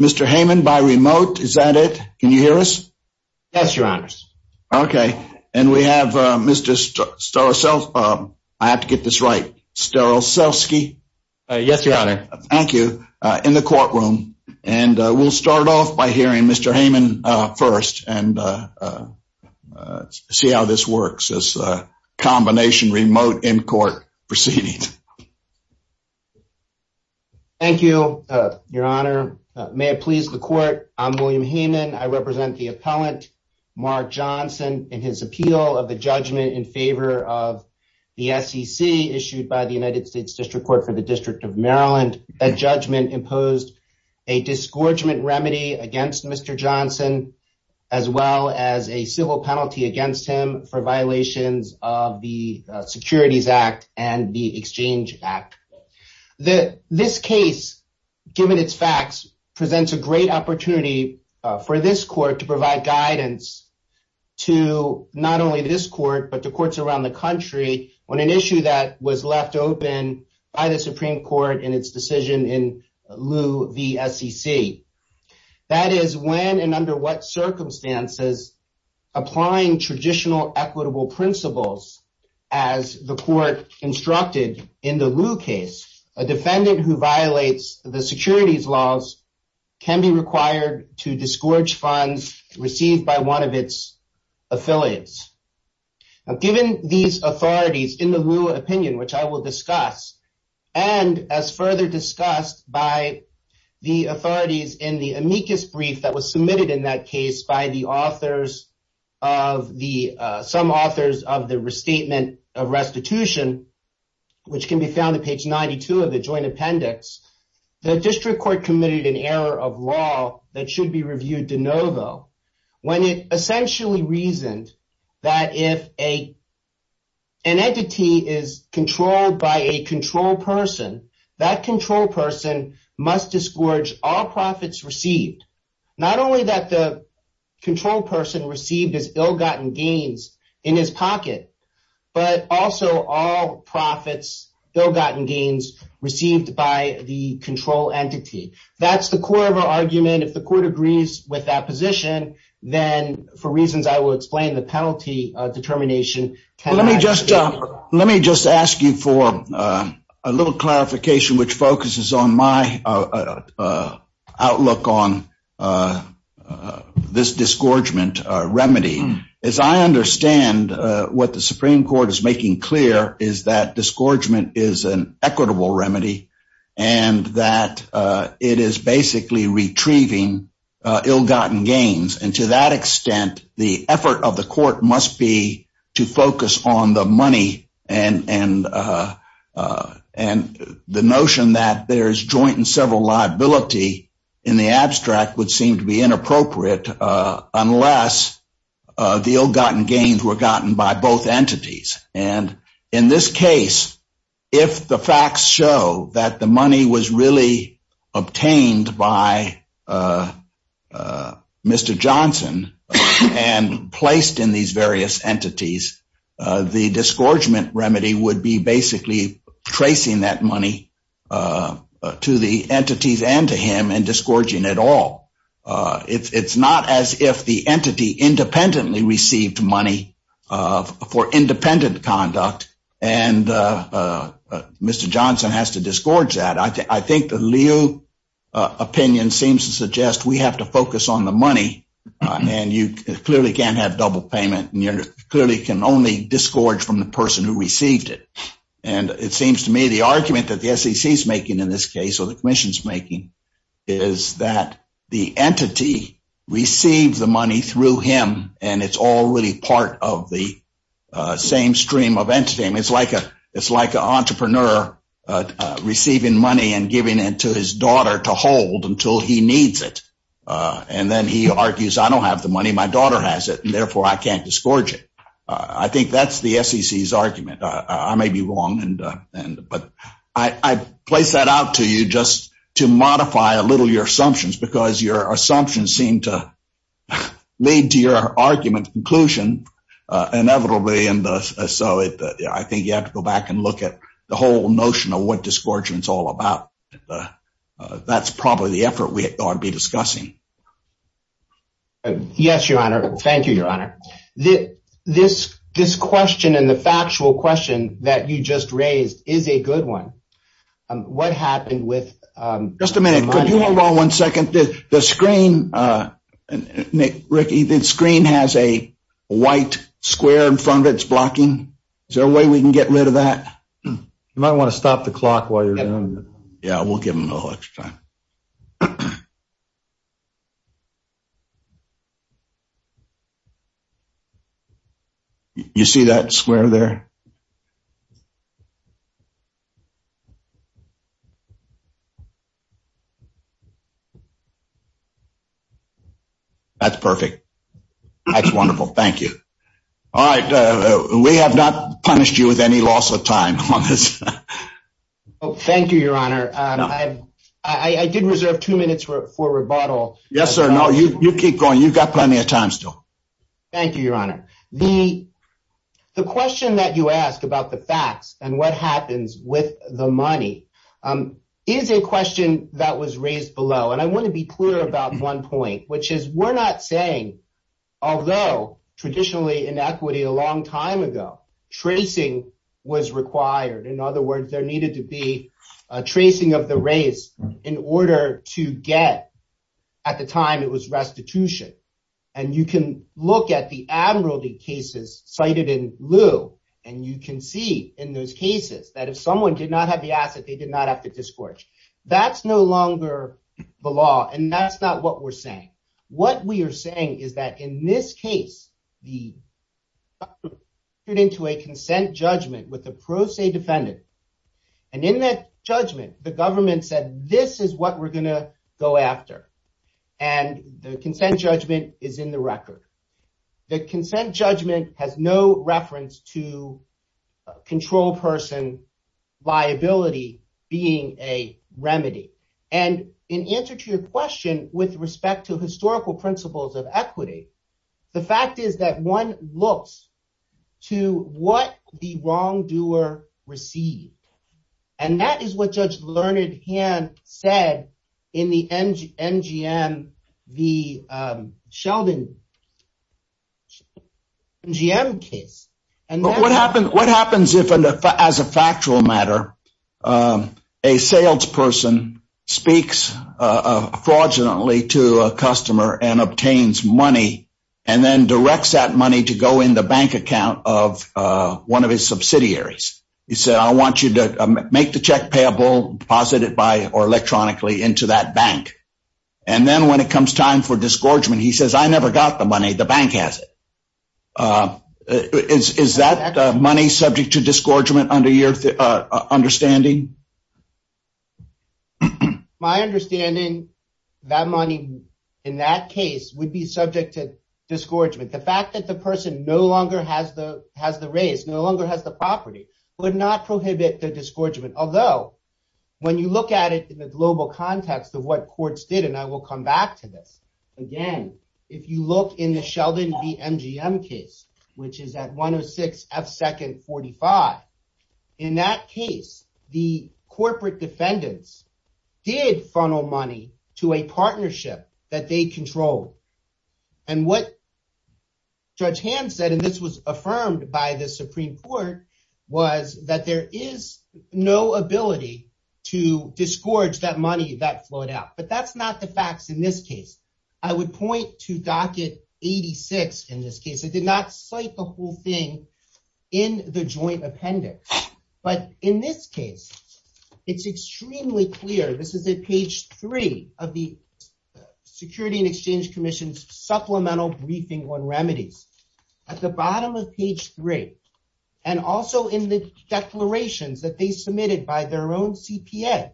Mr. Hayman by remote. Is that it? Can you hear us? Yes, your honors. Okay. And we have Mr. Starr. So I have to get this right. Sterl. So ski. Yes, your honor. Thank you in the courtroom. And we'll start off by hearing Mr. Hayman first and see how this works as a combination remote in court proceeding. Thank you, your honor. May it please the court. I'm William Hayman. I represent the appellant Mark Johnson in his appeal of the judgment in favor of the SEC issued by the United States District Court for the District of Maryland. A judgment imposed a disgorgement remedy against Mr. Johnson, as well as a civil penalty against him for violations of the Securities Act and the Exchange Act. The this case, given its facts, presents a great opportunity for this court to provide guidance to not only this court, but the courts around the country on an issue that was left open by the Supreme Court in its decision in lieu v SEC. That is when and under what circumstances, applying traditional equitable principles, as the court instructed in the lieu case, a defendant who violates the securities laws can be required to disgorge funds received by one of its affiliates. Given these authorities in the lieu opinion, which I will discuss, and as further discussed by the authorities in the amicus brief that was submitted in that case by the authors of the some authors of the restatement of restitution, which can be found on page 92 of the joint appendix, the district court committed an error of law that should be reviewed de novo, when it essentially reasoned that if a an entity is controlled by a control person, that control person must disgorge all profits received, not only that the control person received his ill gotten gains in his pocket, but also all profits, ill gotten gains received by the control entity. That's the core of our argument. If the court agrees with that position, then for reasons I will explain the penalty determination. Let me just let me just ask you for a little clarification, which focuses on my outlook on this disgorgement remedy. As I understand what the Supreme Court is making clear is that disgorgement is an equitable remedy, and that it is basically retrieving ill gotten gains. And to that extent, the effort of the court must be to focus on the money and and and the notion that there's joint and several liability in the abstract would deal gotten gains were gotten by both entities. And in this case, if the facts show that the money was really obtained by Mr. Johnson, and placed in these various entities, the disgorgement remedy would be basically tracing that money to the entities and to him and disgorging at all. It's not as if the entity independently received money for independent conduct. And Mr. Johnson has to disgorge that I think I think the Leo opinion seems to suggest we have to focus on the money. And you clearly can't have double payment. And you clearly can only disgorge from the person who received it. And it seems to me the argument that the SEC is making in this case, or the commission's making, is that the entity received the money through him. And it's all really part of the same stream of entity. And it's like a it's like an entrepreneur receiving money and giving it to his daughter to hold until he needs it. And then he argues, I don't have the money, my daughter has it, and therefore I can't disgorge it. I think that's the SEC's argument, I may be wrong. And, but I place that out to you just to modify a little your assumptions, because your assumptions seem to lead to your argument conclusion, inevitably. And so I think you have to go back and look at the whole notion of what disgorgement is all about. That's probably the effort we ought to be discussing. Yes, Your Honor. Thank you, Your Honor. This, this question and the factual question that you just raised is a good one. What happened with just a minute, could you hold on one second, the screen, Nick, Ricky, the screen has a white square in front of it's blocking. Is there a way we can get rid of that? You might want to stop the clock while you're. Yeah, we'll give him a little extra time. You see that square there? That's perfect. That's wonderful. Thank you. All right. We have not punished you with any loss of time on this. Thank you, Your Honor. I did reserve two minutes for rebuttal. Yes, sir. No, you keep going. You've got plenty of time still. Thank you, Your Honor. The question that you asked about the facts and what happens with the money is a question that was raised below. And I want to be clear about one point, which is we're not saying, although traditionally inequity a long time ago, tracing was required. In other words, there needed to be a tracing of the race in order to get at the time it was restitution. And you can look at the admiralty cases cited in lieu. And you can see in those cases that if someone did not have the asset, they did not have to discourage. That's no longer the law. And that's not what we're saying. What we are saying is that in this case, the put into a consent judgment with the pro se defendant. And in that judgment, the government said, this is what we're going to go after. And the consent judgment is in the record. The consent judgment has no reference to control person liability being a remedy. And in answer to the question with respect to historical principles of equity, the fact is that one looks to what the wrongdoer received. And that is what Judge learned him said, in the NGM, the Sheldon GM case. And what happened, what happens if as a factual matter, a salesperson speaks fraudulently to a customer and obtains money, and then directs that money to go in the bank account of one of his subsidiaries, he said, I want you to make the check payable, deposit it by or electronically into that bank. And then when it comes time for disgorgement, he says, I never got the money, the bank has it. Is that money subject to disgorgement under your understanding? My understanding, that money, in that case would be subject to disgorgement, the fact that the person no longer has the has the race no longer has the property would not prohibit the disgorgement. Although, when you look at it in the global context of what courts did, and I will come back to this. Again, if you look in the Sheldon, the MGM case, which is that 106 F second 45. In that case, the corporate defendants did funnel money to a partnership that they control. And what Judge hands that and this was affirmed by the Supreme Court was that there is no ability to disgorge that money that flowed out. But that's not the facts. In this case, I would point to docket 86. In this case, it did not cite the whole thing in the joint appendix. But in this case, it's extremely clear this is a page three of the Security and Exchange Commission's supplemental briefing on remedies at the bottom of page three, and also in the declarations that they submitted by their own CPA.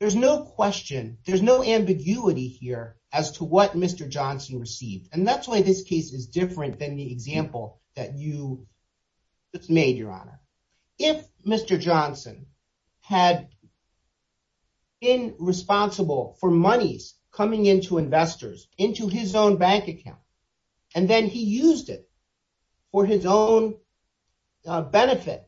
There's no question, there's no ambiguity here as to what Mr. Johnson received. And that's why this case is different than the example that you just made your honor. If Mr. Johnson had been responsible for monies coming into investors into his own bank account, and then he used it for his own benefit,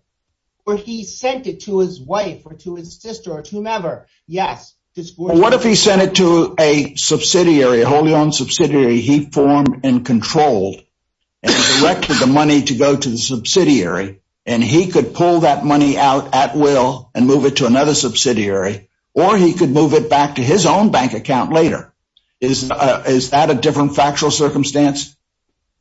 or he sent it to his wife or to his sister or to whomever, yes. What if he sent it to a subsidiary wholly owned subsidiary, he formed and controlled the money to go to the subsidiary, and he could pull that money out at will and move it to another subsidiary, or he could move it back to his own bank account later. Is that a different factual circumstance?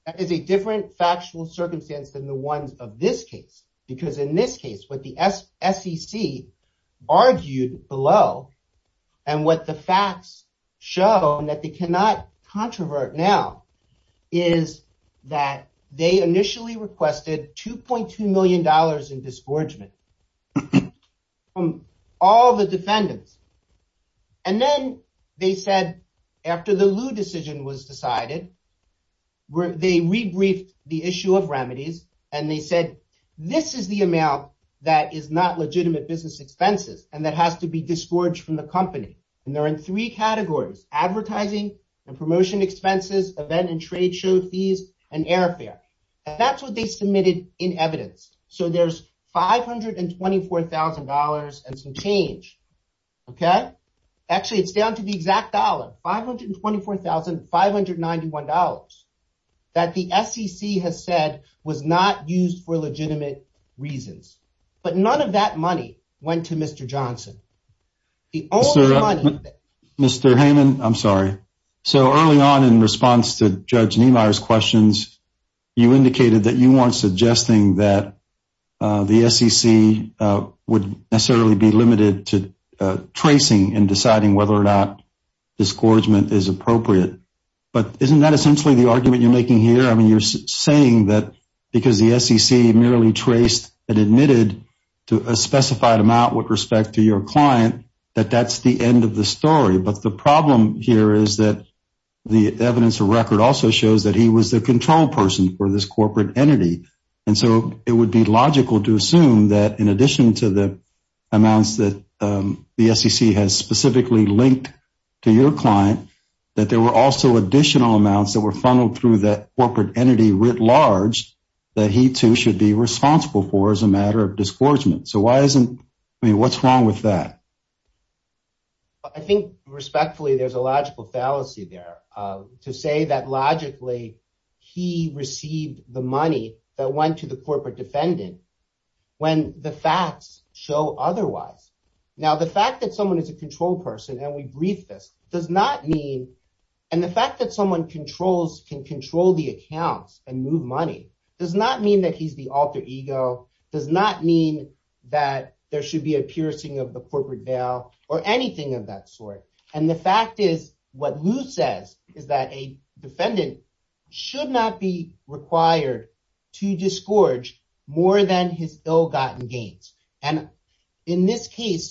It's a different factual circumstance than the ones of this case. Because in this case, what the SEC argued below, and what the facts show that they cannot controvert now, is that they initially requested $2.2 million in disgorgement from all the defendants. And then they said, after the Lou decision was decided, where they rebriefed the issue of remedies, and they said, this is the expenses, and that has to be discouraged from the company. And there are three categories, advertising and promotion expenses, event and trade show fees, and airfare. That's what they submitted in evidence. So there's $524,000 and some change. Okay. Actually, it's down to the exact dollar $524,591 that the SEC has said was not used for legitimate reasons. But none of that money went to Mr. Johnson. Mr. Heyman, I'm sorry. So early on in response to Judge Niemeyer's questions, you indicated that you weren't suggesting that the SEC would necessarily be limited to tracing and deciding whether or not disgorgement is appropriate. But isn't that essentially the argument you're merely traced and admitted to a specified amount with respect to your client, that that's the end of the story. But the problem here is that the evidence of record also shows that he was the control person for this corporate entity. And so it would be logical to assume that in addition to the amounts that the SEC has specifically linked to your client, that there were also additional amounts that were funneled through that corporate entity writ large, that he too should be responsible for as a matter of disgorgement. So why isn't I mean, what's wrong with that? I think respectfully, there's a logical fallacy there, to say that logically, he received the money that went to the corporate defendant, when the facts show otherwise. Now, the fact that someone is a control person, and we brief this does not mean and the fact that someone controls can control the accounts and move money does not mean that he's the alter ego does not mean that there should be a piercing of the corporate bail or anything of that sort. And the fact is, what Lou says is that a defendant should not be required to disgorge more than his ill gotten gains. And in this case,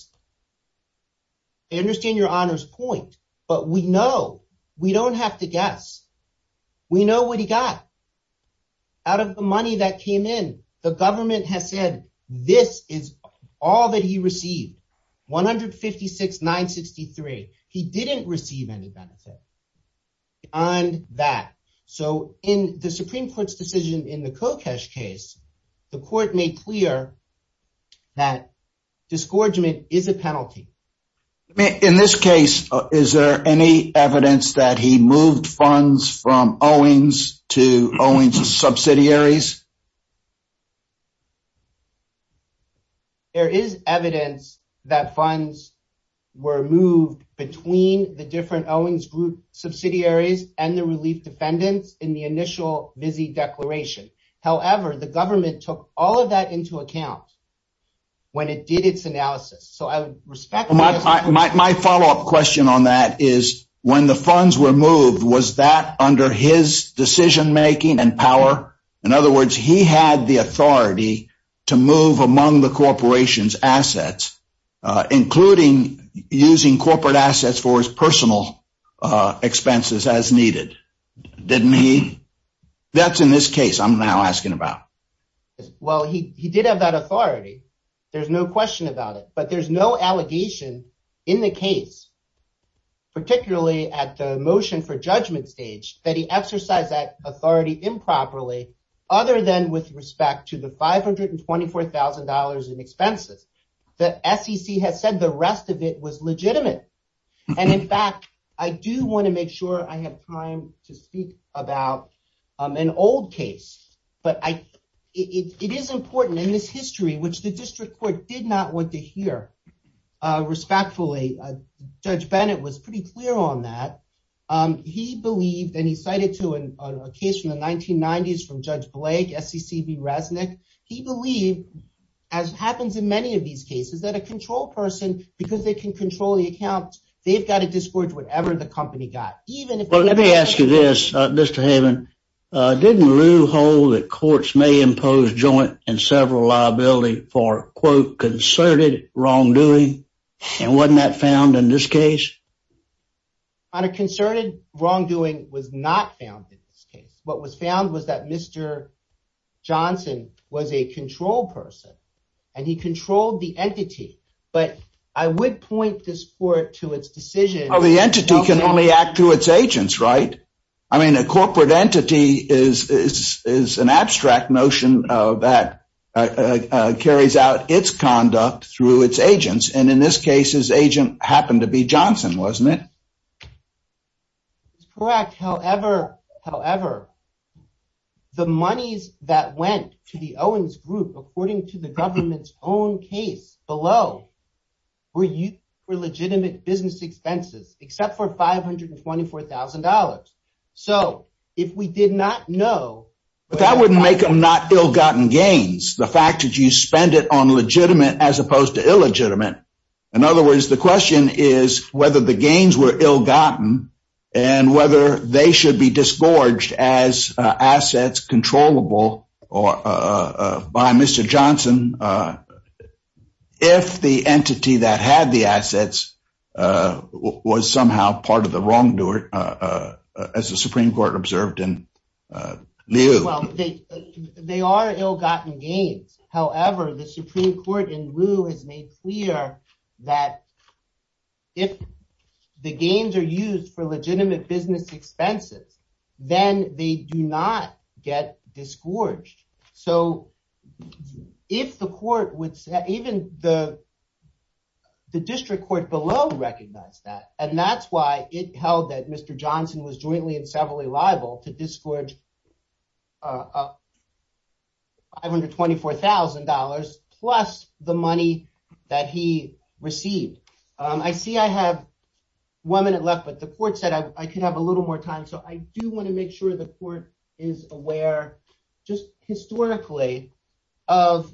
I understand your honors point, but we know, we don't have to guess. We know what he got. Out of the money that came in, the government has said, this is all that he received 156 963, he didn't receive any benefit on that. So in the Supreme Court's decision in the Kokesh case, the court made clear that disgorgement is a penalty. In this case, is there any evidence that he moved funds from Owings to Owings subsidiaries? There is evidence that funds were moved between the different Owings group subsidiaries and the relief defendants in the initial busy declaration. However, the government took all of that into account when it did its analysis. So I would respect my follow up question on that is when the funds were moved, was that under his decision making and power? In other words, he had the authority to move among the corporation's assets, including using corporate assets for his personal expenses as needed, didn't he? That's in this case I'm now asking about. Well, he did have that authority. There's no question about it. But there's no allegation in the case, particularly at the motion for judgment stage, that he exercised that authority improperly, other than with respect to the $524,000 in expenses that SEC has said the rest of it was legitimate. And in fact, I do want to make sure I have time to speak about an old case. But it is important in this history, which the district court did not want to hear. Respectfully, Judge Bennett was pretty clear on that. He believed and he cited to a case from the 1990s from Judge Blake, SECB Resnick. He believed, as happens in many of these cases, that a control person, because they can control the account, they've got to discharge whatever the company got, even if... Well, let me ask you this, Mr. Haven. Didn't Lew hold that courts may impose joint and several liability for, quote, concerted wrongdoing? And wasn't that found in this case? Honor, concerted wrongdoing was not found in this case. What was found was that Mr. Johnson was a control person, and he controlled the entity. But I would point this court to its decision... Oh, the entity can only act through its agents, right? I mean, a corporate entity is an abstract notion that carries out its conduct through its agents. And in this case, his agent happened to be Johnson, wasn't it? It's correct. However, however, the monies that went to the Owens Group, according to the government's own case below, were used for legitimate business expenses, except for $524,000. So if we did not know... But that wouldn't make them not ill-gotten gains. The fact that you spend it on legitimate, as opposed to illegitimate. In other words, the question is whether the gains were ill-gotten, and whether they should be disgorged as assets controllable by Mr. Johnson, if the entity that had the assets was somehow part of the wrongdoer, as the Supreme Court observed in Lew. Well, they are ill-gotten gains. However, the Supreme Court in Lew has made clear that if the gains are used for legitimate business expenses, then they do not get disgorged. So if the court would... Even the district court below recognized that, and that's why it held that Mr. Johnson was up $524,000 plus the money that he received. I see I have one minute left, but the court said I could have a little more time. So I do want to make sure the court is aware, just historically, of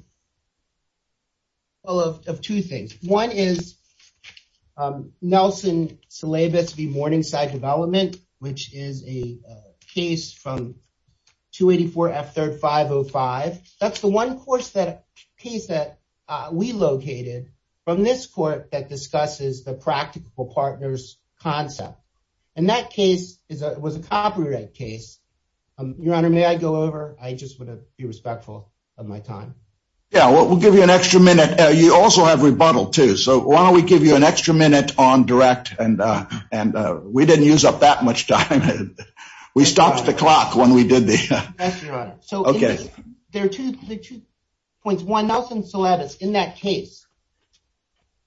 two things. One is Nelson Slaibus v. F3rd 505. That's the one case that we located from this court that discusses the practical partners concept, and that case was a copyright case. Your Honor, may I go over? I just want to be respectful of my time. Yeah, we'll give you an extra minute. You also have rebuttal too, so why don't we give you an extra minute on direct, and we didn't use up much time. We stopped the clock when we did this. So there are two points. One, Nelson Slaibus, in that case,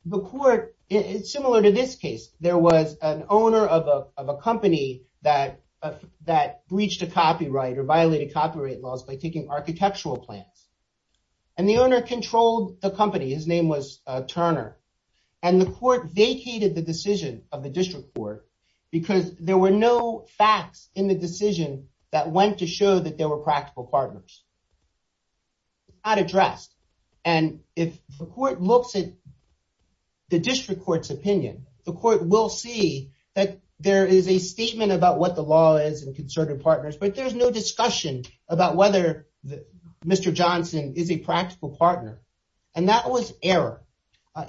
the court, similar to this case, there was an owner of a company that breached a copyright or violated copyright laws by taking architectural plans, and the owner controlled the company. His name was Turner, and the court vacated the decision of the district court because there were no facts in the decision that went to show that there were practical partners. It's not addressed, and if the court looks at the district court's opinion, the court will see that there is a statement about what the law is and concerted partners, but there's no discussion about whether Mr. Johnson is a practical partner, and that was error.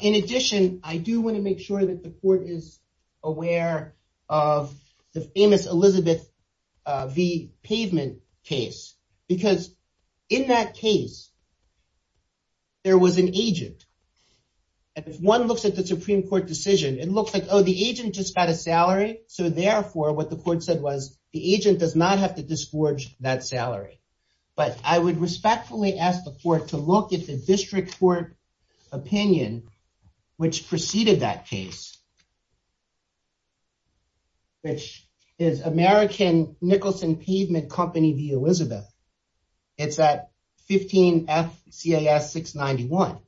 In addition, I do want to make sure that the court is aware of the famous Elizabeth V. Pavement case, because in that case, there was an agent, and if one looks at the Supreme Court decision, it looks like, oh, the agent just got a salary, so therefore what the court said was the agent does not have to disgorge that salary, but I would respectfully ask the court to look at the district court opinion, which preceded that case, which is American Nicholson Pavement Company v. Elizabeth. It's at 15 F CAS 691.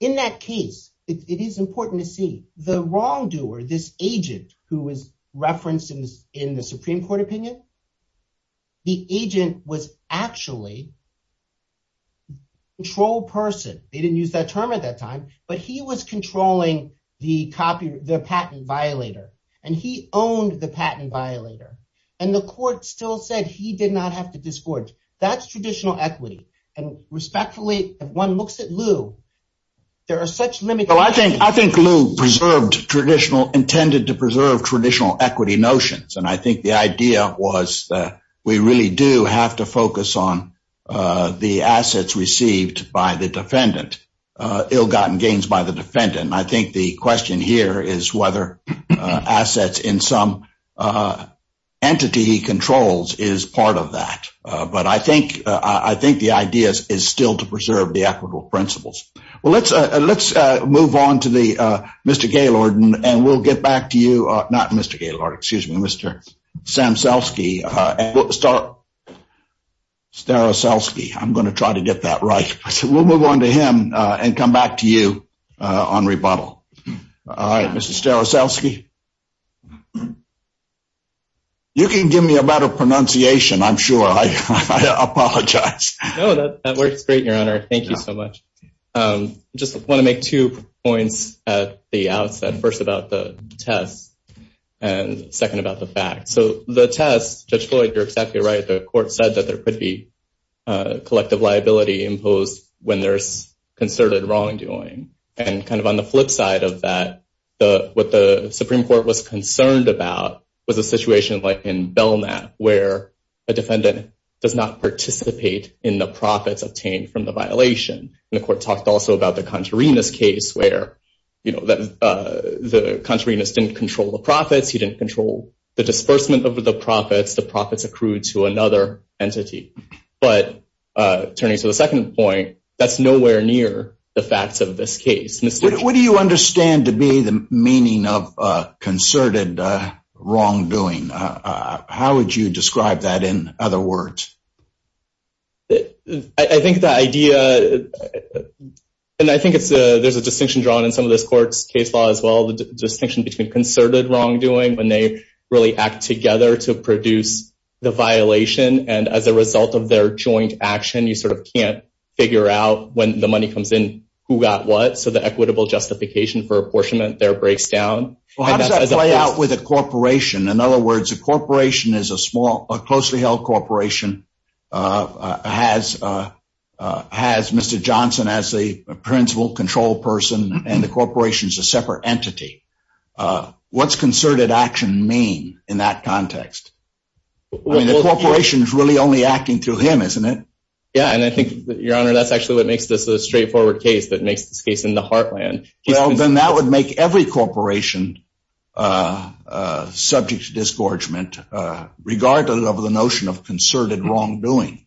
In that case, it is important to see the wrongdoer, this agent who was referenced in the Supreme Court opinion, the agent was actually a controlled person. They didn't use that term at that time, but he was controlling the patent violator, and he owned the patent violator, and the court still said he did not have to disgorge. That's traditional equity, and respectfully, if one looks at Lew, there are such limits. Well, I think Lew intended to preserve traditional equity notions, and I think the idea was that we really do have to focus on the assets received by the defendant, ill-gotten gains by the defendant, and I think the question here is whether assets in some entity controls is part of that, but I think the idea is still to preserve the equitable principles. Well, let's move on to Mr. Gaylord, and we'll get back to not Mr. Gaylord, excuse me, Mr. Staroselski, I'm going to try to get that right. We'll move on to him and come back to you on rebuttal. All right, Mr. Staroselski, you can give me a better pronunciation, I'm sure. I apologize. No, that works great, Your Honor. Thank you so much. Just want to make two points at the outset, first about the test and second about the fact. So the test, Judge Floyd, you're exactly right, the court said that there could be collective liability imposed when there's concerted wrongdoing, and kind of on the flip side of that, what the Supreme Court was concerned about was a situation like in Belknap where a defendant does not participate in the profits obtained from the violation, and the court talked also about the Contarinas case where the Contarinas didn't control the profits, he didn't control the disbursement of the profits, the profits accrued to another entity. But turning to the second point, that's nowhere near the facts of this case. What do you understand to be the meaning of concerted wrongdoing? How would you describe that in other words? I think the idea, and I think there's a distinction drawn in some of this court's case law as well, the distinction between concerted wrongdoing when they really act together to produce the violation, and as a result of their joint action, you sort of can't figure out when the money comes in, who got what, so the equitable justification for apportionment there breaks down. How does that play out with a corporation? In other words, a corporation is a small, a closely held corporation, has Mr. Johnson as the principal control person, and the corporation is a separate entity. What's concerted action mean in that context? I mean, the corporation is really only acting through him, isn't it? Yeah, and I think, Your Honor, that's actually what makes this a straightforward case that makes this case in the heartland. Well, then that would make every corporation subject to disgorgement, regardless of the notion of concerted wrongdoing.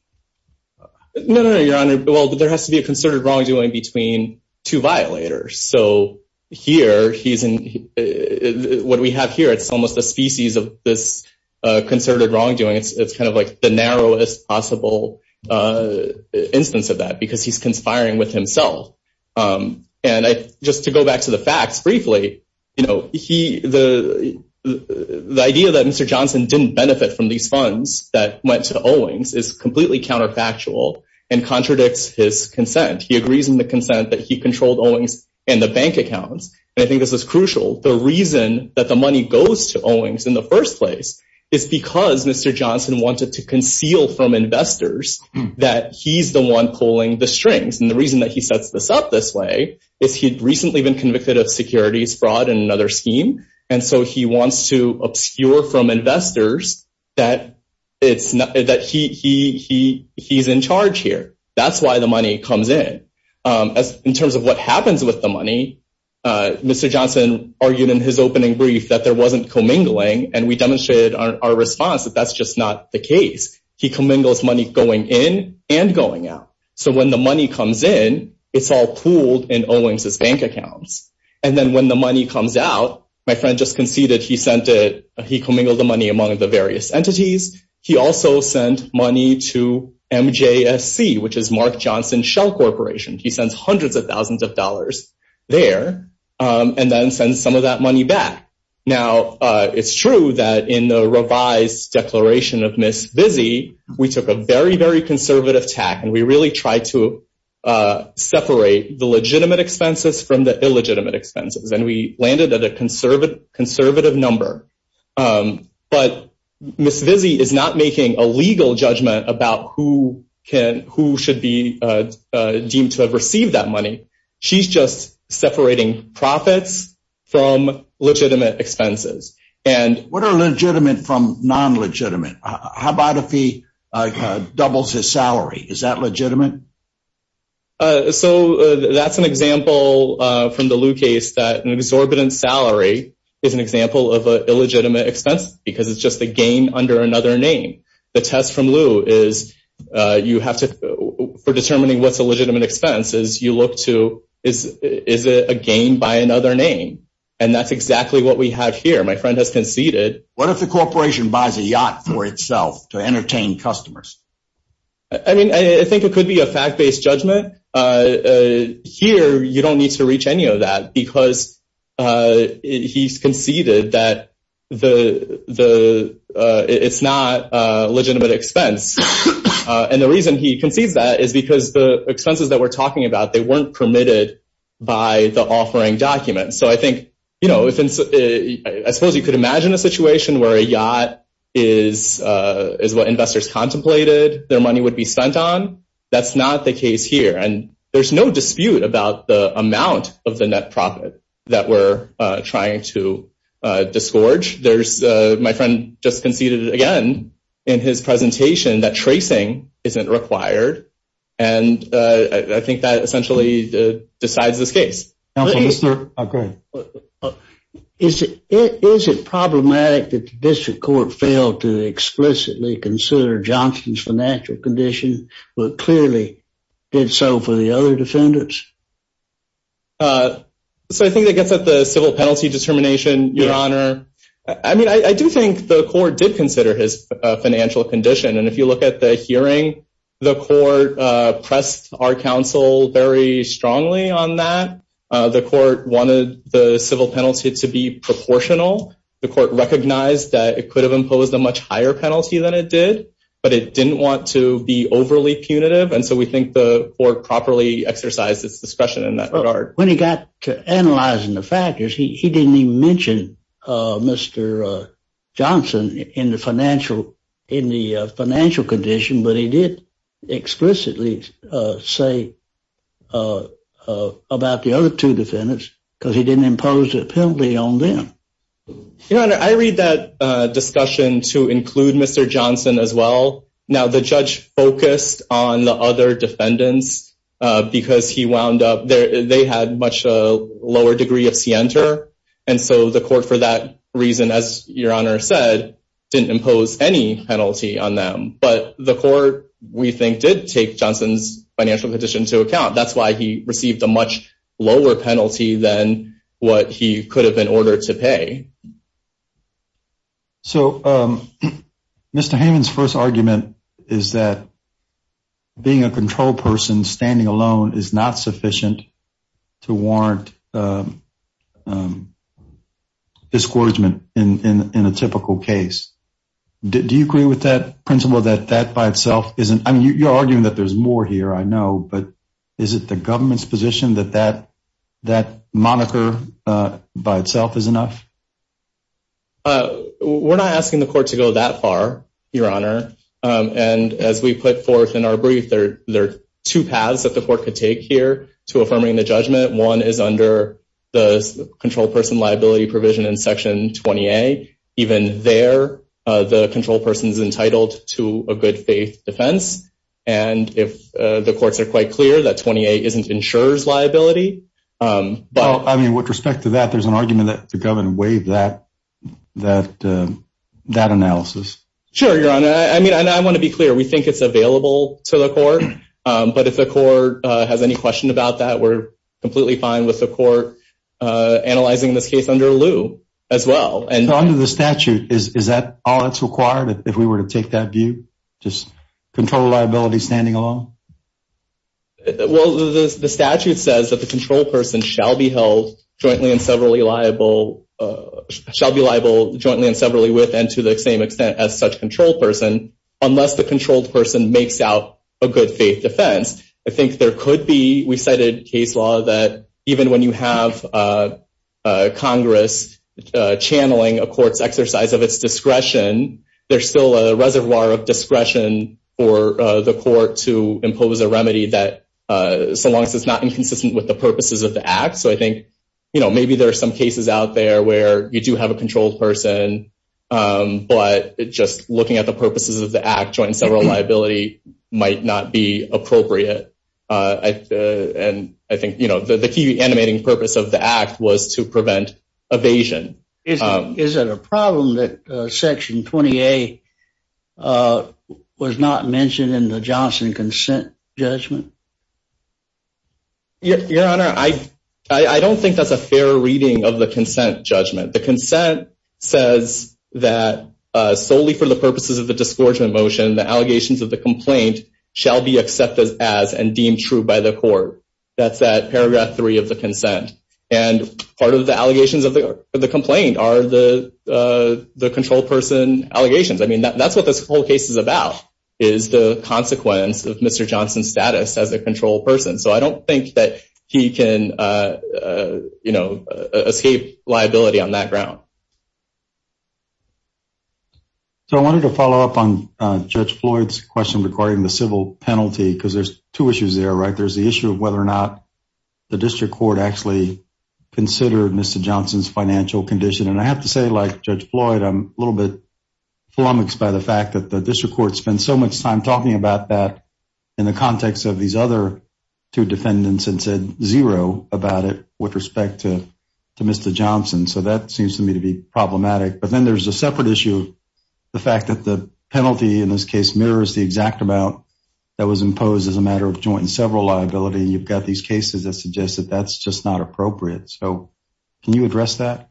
No, no, Your Honor. Well, there has to be a concerted wrongdoing between two violators, so here he's in, what we have here, it's almost a species of this concerted wrongdoing. It's kind of like the narrowest possible instance of that because he's conspiring with himself, and just to go back to the facts briefly, you know, he, the idea that Mr. Johnson didn't benefit from these funds that went to Owings is completely counterfactual and contradicts his consent. He agrees in the consent that he controlled Owings and the bank accounts, and I think this is crucial. The reason that the money goes to Owings in the first place is because Mr. Johnson wanted to conceal from investors that he's the one pulling the strings, and the reason that he sets this up this way is he'd recently been convicted of securities fraud in another scheme, and so he wants to obscure from investors that he's in charge here. That's why the money comes in. In terms of what happens with the money, Mr. Johnson argued in his opening brief that there wasn't commingling, and we demonstrated our response that that's just not the case. He commingles money going in and going out, so when the money comes in, it's all pooled in Owings' bank accounts, and then when the money comes out, my sent it. He commingled the money among the various entities. He also sent money to MJSC, which is Mark Johnson Shell Corporation. He sends hundreds of thousands of dollars there and then sends some of that money back. Now, it's true that in the revised declaration of Ms. Vizzi, we took a very, very conservative tack, and we really tried to separate the legitimate expenses from the illegitimate expenses, and we landed at a conservative number, but Ms. Vizzi is not making a legal judgment about who should be deemed to have received that money. She's just separating profits from legitimate expenses. What are legitimate from non-legitimate? How about if he doubles his salary? Is that legitimate? So, that's an example from the Liu case that an exorbitant salary is an example of an illegitimate expense because it's just a gain under another name. The test from Liu is you have to, for determining what's a legitimate expense, is you look to, is it a gain by another name? And that's exactly what we have here. My friend has conceded. What if the corporation buys a yacht for itself to entertain customers? I mean, I think it could be a fact-based judgment. Here, you don't need to reach any of that because he's conceded that it's not a legitimate expense. And the reason he concedes that is because the expenses that we're talking about, they weren't permitted by the offering document. So, I think, you know, I suppose you could imagine a yacht is what investors contemplated their money would be spent on. That's not the case here. And there's no dispute about the amount of the net profit that we're trying to disgorge. There's, my friend just conceded again in his presentation that tracing isn't required. And I think that essentially decides this case. Is it problematic that the district court failed to explicitly consider Johnson's financial condition, but clearly did so for the other defendants? So, I think that gets at the civil penalty determination, Your Honor. I mean, I do think the court did consider his financial condition. And if you look at the hearing, the court pressed our counsel very strongly on that. The court wanted the civil penalty to be proportional. The court recognized that it could have imposed a much higher penalty than it did, but it didn't want to be overly punitive. And so we think the court properly exercised its discretion in that regard. When he got to analyzing the factors, he didn't even mention Mr. Johnson in the financial condition, but he did explicitly say about the other two defendants because he didn't impose a penalty on them. Your Honor, I read that discussion to include Mr. Johnson as well. Now, the judge focused on the other defendants because he wound up there. They had much lower degree of scienter. And so the court, for that reason, as Your Honor said, didn't impose any penalty on them. But the court, we think, did take Johnson's financial condition to account. That's why he received a much lower penalty than what he could have been ordered to pay. So Mr. Hammond's first argument is that being a control person standing alone is not sufficient to warrant discouragement in a typical case. Do you agree with that principle that that by itself isn't? I mean, you're arguing that there's more here, I know, but is it the government's position that that moniker by itself is enough? We're not asking the court to go that far, Your Honor. And as we put forth in our brief, there are two paths that the court could take here to affirming the judgment. One is under the control person liability provision in Section 20A. Even there, the control person's entitled to a good faith defense. And if the courts are quite clear that 20A isn't insurer's liability. Well, I mean, with respect to that, there's an argument that the government waived that analysis. Sure, Your Honor. I mean, I want to be clear. We think it's available to the court. But if the court has any question about that, we're completely fine with the court analyzing this case under lieu as well. Under the statute, is that all that's required if we were to take that view? Just control liability standing alone? Well, the statute says that the control person shall be held jointly and severally liable, shall be liable jointly and severally with and to the same extent as such control person, unless the controlled person makes out a good faith defense. I think there could be, we cited case law that even when you have Congress channeling a court's exercise of its discretion, there's still a reservoir of discretion for the court to impose a remedy that, so long as it's not inconsistent with the purposes of the act. So I think, you know, maybe there are some cases out there where you do have a controlled person, but just looking at the purposes of the act, joint and several liability might not be appropriate. And I think, you know, the key animating purpose of the act was to prevent evasion. Is it a problem that section 20A was not mentioned in the Johnson consent judgment? Your Honor, I don't think that's a fair reading of the consent judgment. The consent says that solely for the purposes of the motion, the allegations of the complaint shall be accepted as and deemed true by the court. That's that paragraph three of the consent. And part of the allegations of the complaint are the controlled person allegations. I mean, that's what this whole case is about, is the consequence of Mr. Johnson's status as a control person. So I don't think that he can, you know, escape liability on that ground. So I wanted to follow up on Judge Floyd's question regarding the civil penalty, because there's two issues there, right? There's the issue of whether or not the district court actually considered Mr. Johnson's financial condition. And I have to say, like Judge Floyd, I'm a little bit flummoxed by the fact that the district court spent so much time talking about that in the context of these other two defendants and said zero about it with respect to Mr. Johnson. So that seems to me to be problematic. But then there's a separate issue of the fact that the penalty in this case mirrors the exact amount that was imposed as a matter of joint and several liability. And you've got these cases that suggest that that's just not appropriate. So can you address that?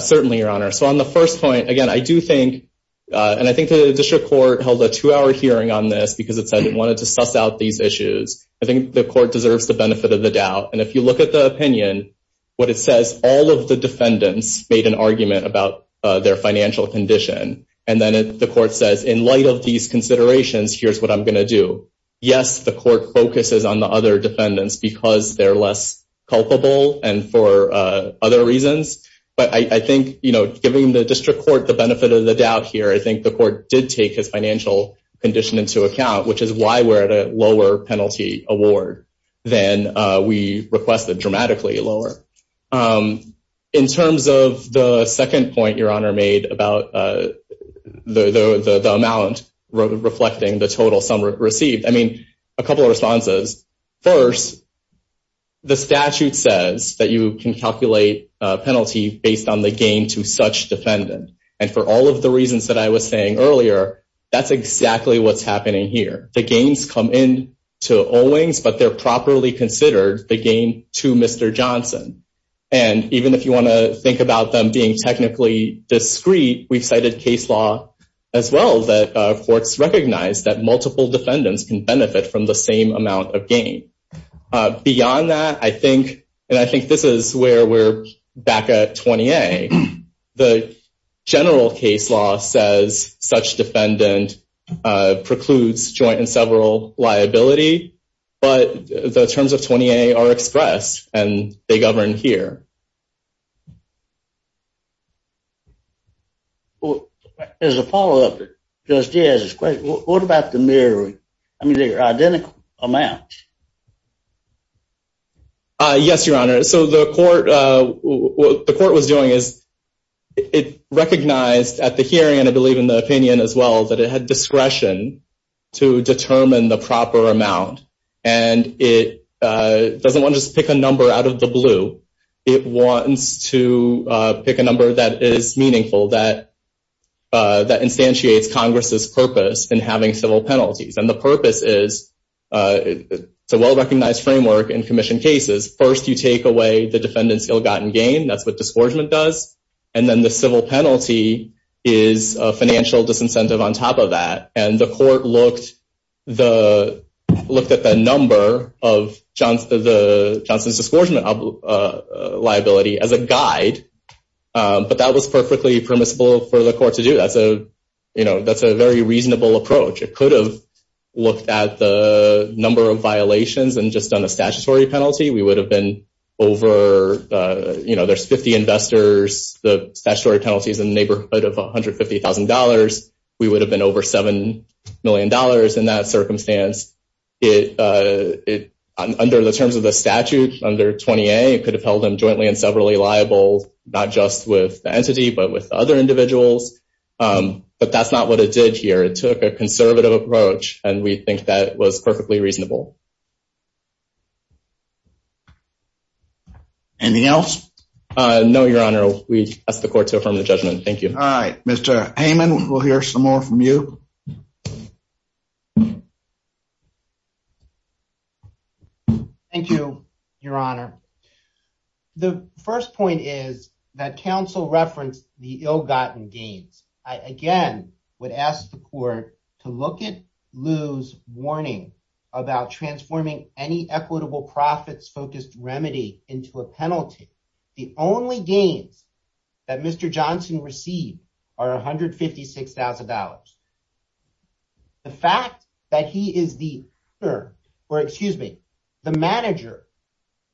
Certainly, Your Honor. So on the first point, again, I do think, and I think the district court held a two-hour hearing on this because it said it wanted to suss out these issues. I think the court deserves the benefit of the doubt. And if you look at the opinion, what it says, all of the defendants made an argument about their financial condition. And then the court says, in light of these considerations, here's what I'm going to do. Yes, the court focuses on the other defendants because they're less culpable and for other reasons. But I think, you know, giving the district court the benefit of the doubt here, I think the court did take his financial condition into account, which is why we're at a lower penalty award than we requested, dramatically lower. In terms of the second point Your Honor made about the amount reflecting the total sum received, I mean, a couple of responses. First, the statute says that you can calculate a penalty based on the gain to such defendant. And for all of the reasons that I was saying earlier, that's exactly what's happening here. The gains come in to Owings, but they're properly considered the gain to Mr. Johnson. And even if you want to think about them being technically discreet, we've cited case law as well that courts recognize that multiple defendants can benefit from the same amount of gain. Beyond that, I think, and I think this is where we're back at 20A, the general case law says such defendant precludes joint and several liability. But the terms of 20A are expressed, and they govern here. Well, as a follow up, just as a question, what about the mirroring? I mean, they're identical amounts. Yes, Your Honor. So the court, what the court was doing is it recognized at the hearing, and I believe in the opinion as well, that it had discretion to determine the proper amount. And it doesn't want to just pick a number out of the blue. It wants to pick a number that is meaningful, that instantiates Congress's purpose in having civil penalties. And the purpose is, it's a well-recognized framework in commission cases. First, you take away the defendant's ill-gotten gain. That's what disgorgement does. And then the civil penalty is a financial disincentive on top of that. And the court looked at the number of Johnson's disgorgement liability as a guide. But that was perfectly permissible for the court to do. That's a very reasonable approach. It could have looked at the number of violations and just done a statutory penalty. We would have been over, you know, there's 50 investors, the statutory penalty is in the neighborhood of $150,000. We would have been over $7 million in that circumstance. Under the terms of the statute, under 20A, it could have held them jointly and severally liable, not just with the entity, but with other individuals. But that's not what it did here. It took a conservative approach, and we think that was perfectly reasonable. Anything else? No, Your Honor. We ask the court to affirm the judgment. Thank you. All right. Mr. Heyman, we'll hear some more from you. Thank you, Your Honor. The first point is that counsel referenced the ill-gotten gains. I, again, would ask the court to look at warning about transforming any equitable profits-focused remedy into a penalty. The only gains that Mr. Johnson received are $156,000. The fact that he is the manager,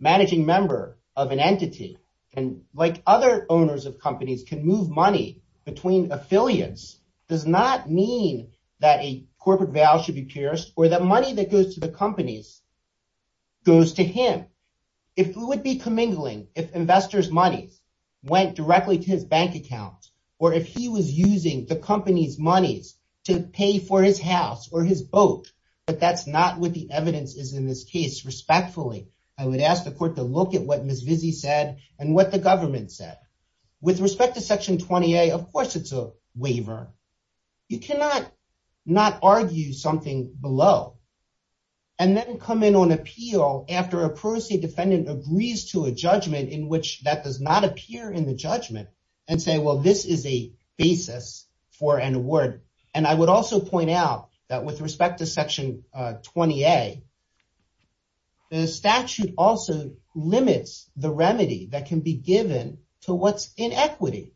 managing member of an entity, and like other owners of companies, can move money between affiliates does not mean that a corporate vow should be pierced or that money that goes to the companies goes to him. It would be commingling if investors' monies went directly to his bank account or if he was using the company's monies to pay for his house or his boat, but that's not what the evidence is in this case. Respectfully, I would ask the court to look at what Ms. Vizzi said and what the government said. With respect to Section 20A, of course it's a waiver. You cannot not argue something below and then come in on appeal after a privacy defendant agrees to a judgment in which that does not appear in the judgment and say, well, this is a basis for an award. I would also point out that with respect to Section 20A, the statute also limits the remedy that can be given to what's in equity.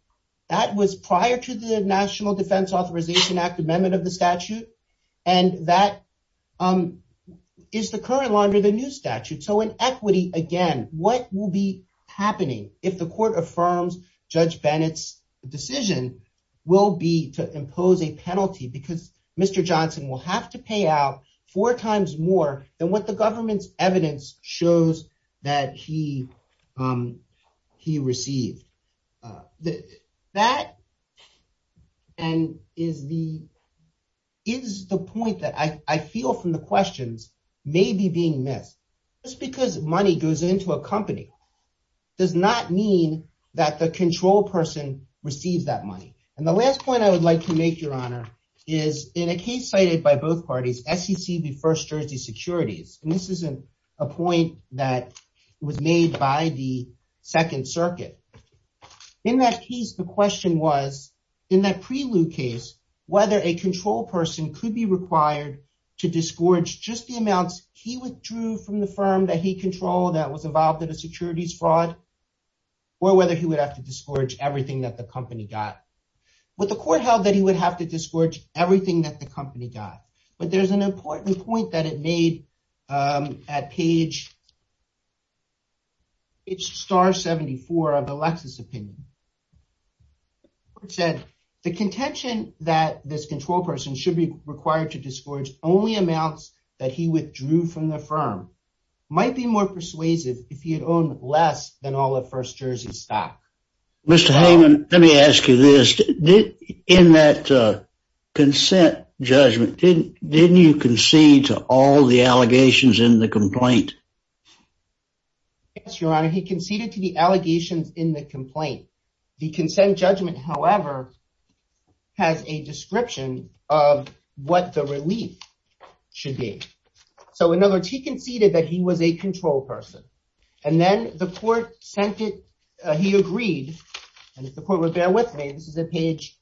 That was prior to the National Defense Authorization Act amendment of the statute, and that is the current law under the new statute. So in equity, again, what will be happening if the court affirms Judge Bennett's decision will be to impose a penalty because Mr. Johnson will have to pay out four times more than what the government's evidence shows that he received? That is the point that I feel from the questions may be being missed. Just because money goes into a company does not mean that the control person receives that money. And the last point I would like to make, Your Honor, is in a case cited by both parties, SEC v. First Jersey Securities, and this is a point that was made by the Second Circuit. In that case, the question was, in that prelude case, whether a control person could be required to disgorge just the amounts he withdrew from the firm that he controlled that was involved in a securities fraud, or whether he would have to disgorge everything that the company got. But the court held that he would have to disgorge everything that the company got. But there's an important point that it made at page star 74 of the Lexus opinion. It said, the contention that this control person should be required to disgorge only amounts that he withdrew from the firm might be more persuasive if he had owned less than all of First Jersey's stock. Mr. Heyman, let me ask you this. In that consent judgment, didn't you concede to all the allegations in the complaint? Yes, Your Honor. He conceded to the allegations in the complaint. The consent judgment, however, has a description of what the relief should be. So, in other words, he conceded that he was a person. And then the court sent it, he agreed, and if the court would bear with me, this is at page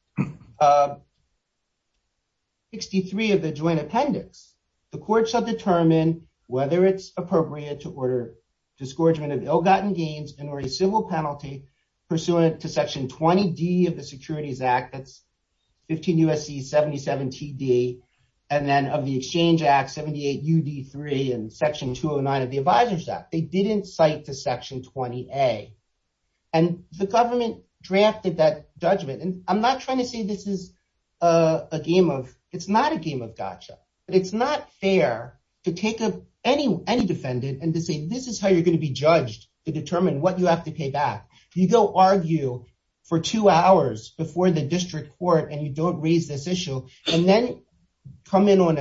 63 of the joint appendix. The court shall determine whether it's appropriate to order disgorgement of ill-gotten gains and or a civil penalty pursuant to section 20D of the Securities Act. They didn't cite to section 20A. And the government drafted that judgment. And I'm not trying to say this is a game of, it's not a game of gotcha, but it's not fair to take any defendant and to say, this is how you're going to be judged to determine what you have to pay back. You go argue for two hours before the district court and you don't raise this issue and then come in on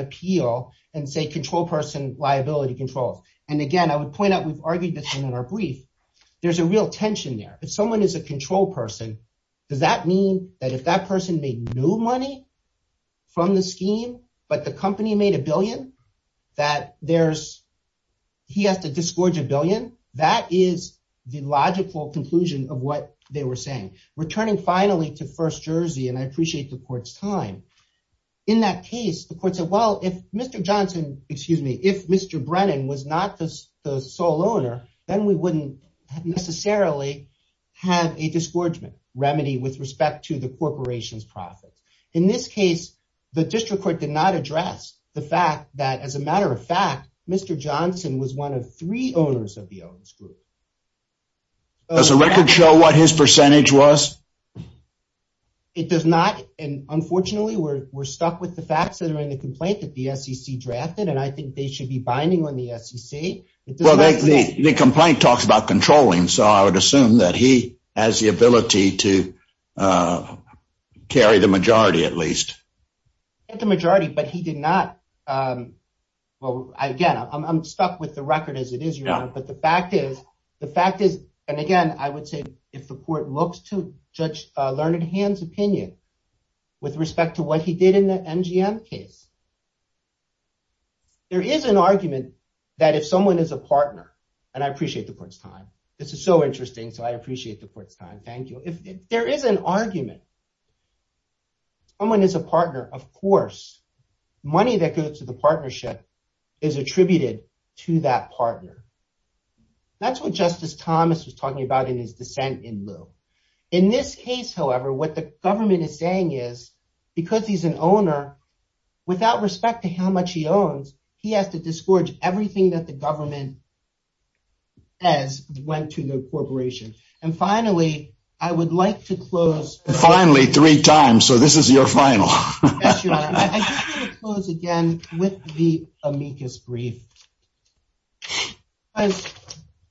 point out we've argued this in our brief. There's a real tension there. If someone is a control person, does that mean that if that person made no money from the scheme, but the company made a billion, that he has to disgorge a billion? That is the logical conclusion of what they were saying. Returning finally to First Jersey, and I appreciate the court's time. In that case, the court said, if Mr. Johnson, excuse me, if Mr. Brennan was not the sole owner, then we wouldn't necessarily have a disgorgement remedy with respect to the corporation's profits. In this case, the district court did not address the fact that as a matter of fact, Mr. Johnson was one of three owners of the owners group. Does the record show what his percentage was? It does not. Unfortunately, we're stuck with the facts that are in the complaint that the SEC drafted, and I think they should be binding on the SEC. The complaint talks about controlling, so I would assume that he has the ability to carry the majority at least. The majority, but he did not. Again, I'm stuck with the record as it is, but the fact is, and again, I would say if the court looks to Judge Learned Hand's opinion with respect to what he did in the MGM case, there is an argument that if someone is a partner, and I appreciate the court's time. This is so interesting, so I appreciate the court's time. Thank you. If there is an argument, someone is a partner, of course, money that goes to partnership is attributed to that partner. That's what Justice Thomas was talking about in his dissent in lieu. In this case, however, what the government is saying is, because he's an owner, without respect to how much he owns, he has to disgorge everything that the government has went to the corporation. Finally, I would like to close- Finally, three times, so this is your final. I just want to close again with the amicus brief.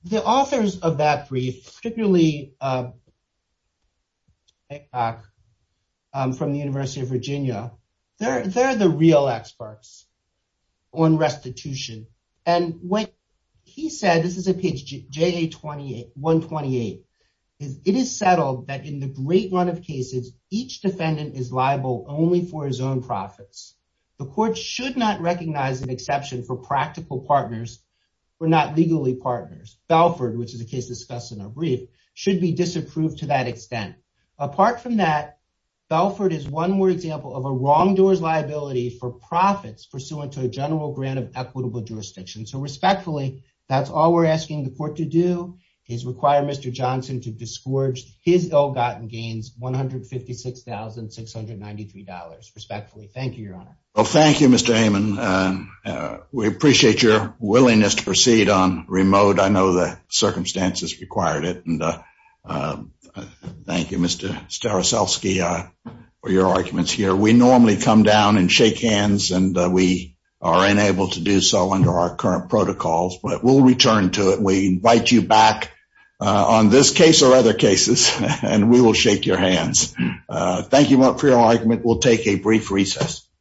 The authors of that brief, particularly Haycock from the University of Virginia, they're the real experts on restitution, and what he said, this is on page 128, is it is settled that in the great run of cases, each defendant is liable only for his own profits. The court should not recognize an exception for practical partners who are not legally partners. Belford, which is a case discussed in our brief, should be disapproved to that extent. Apart from that, Belford is one more example of a wrongdoer's liability for profits pursuant to a general grant of equitable jurisdiction. Respectfully, that's all we're asking the court to do, is require Mr. Johnson to disgorge his ill-gotten gains, $156,693, respectfully. Thank you, Your Honor. Well, thank you, Mr. Heyman. We appreciate your willingness to proceed on remote. I know the circumstances required it, and thank you, Mr. Staroselski, for your arguments here. We normally come down and shake hands, and we are unable to do so under our current protocols, but we'll return to it. We invite you back on this case or other cases, and we will shake your hands. Thank you for your argument. We'll take a brief recess.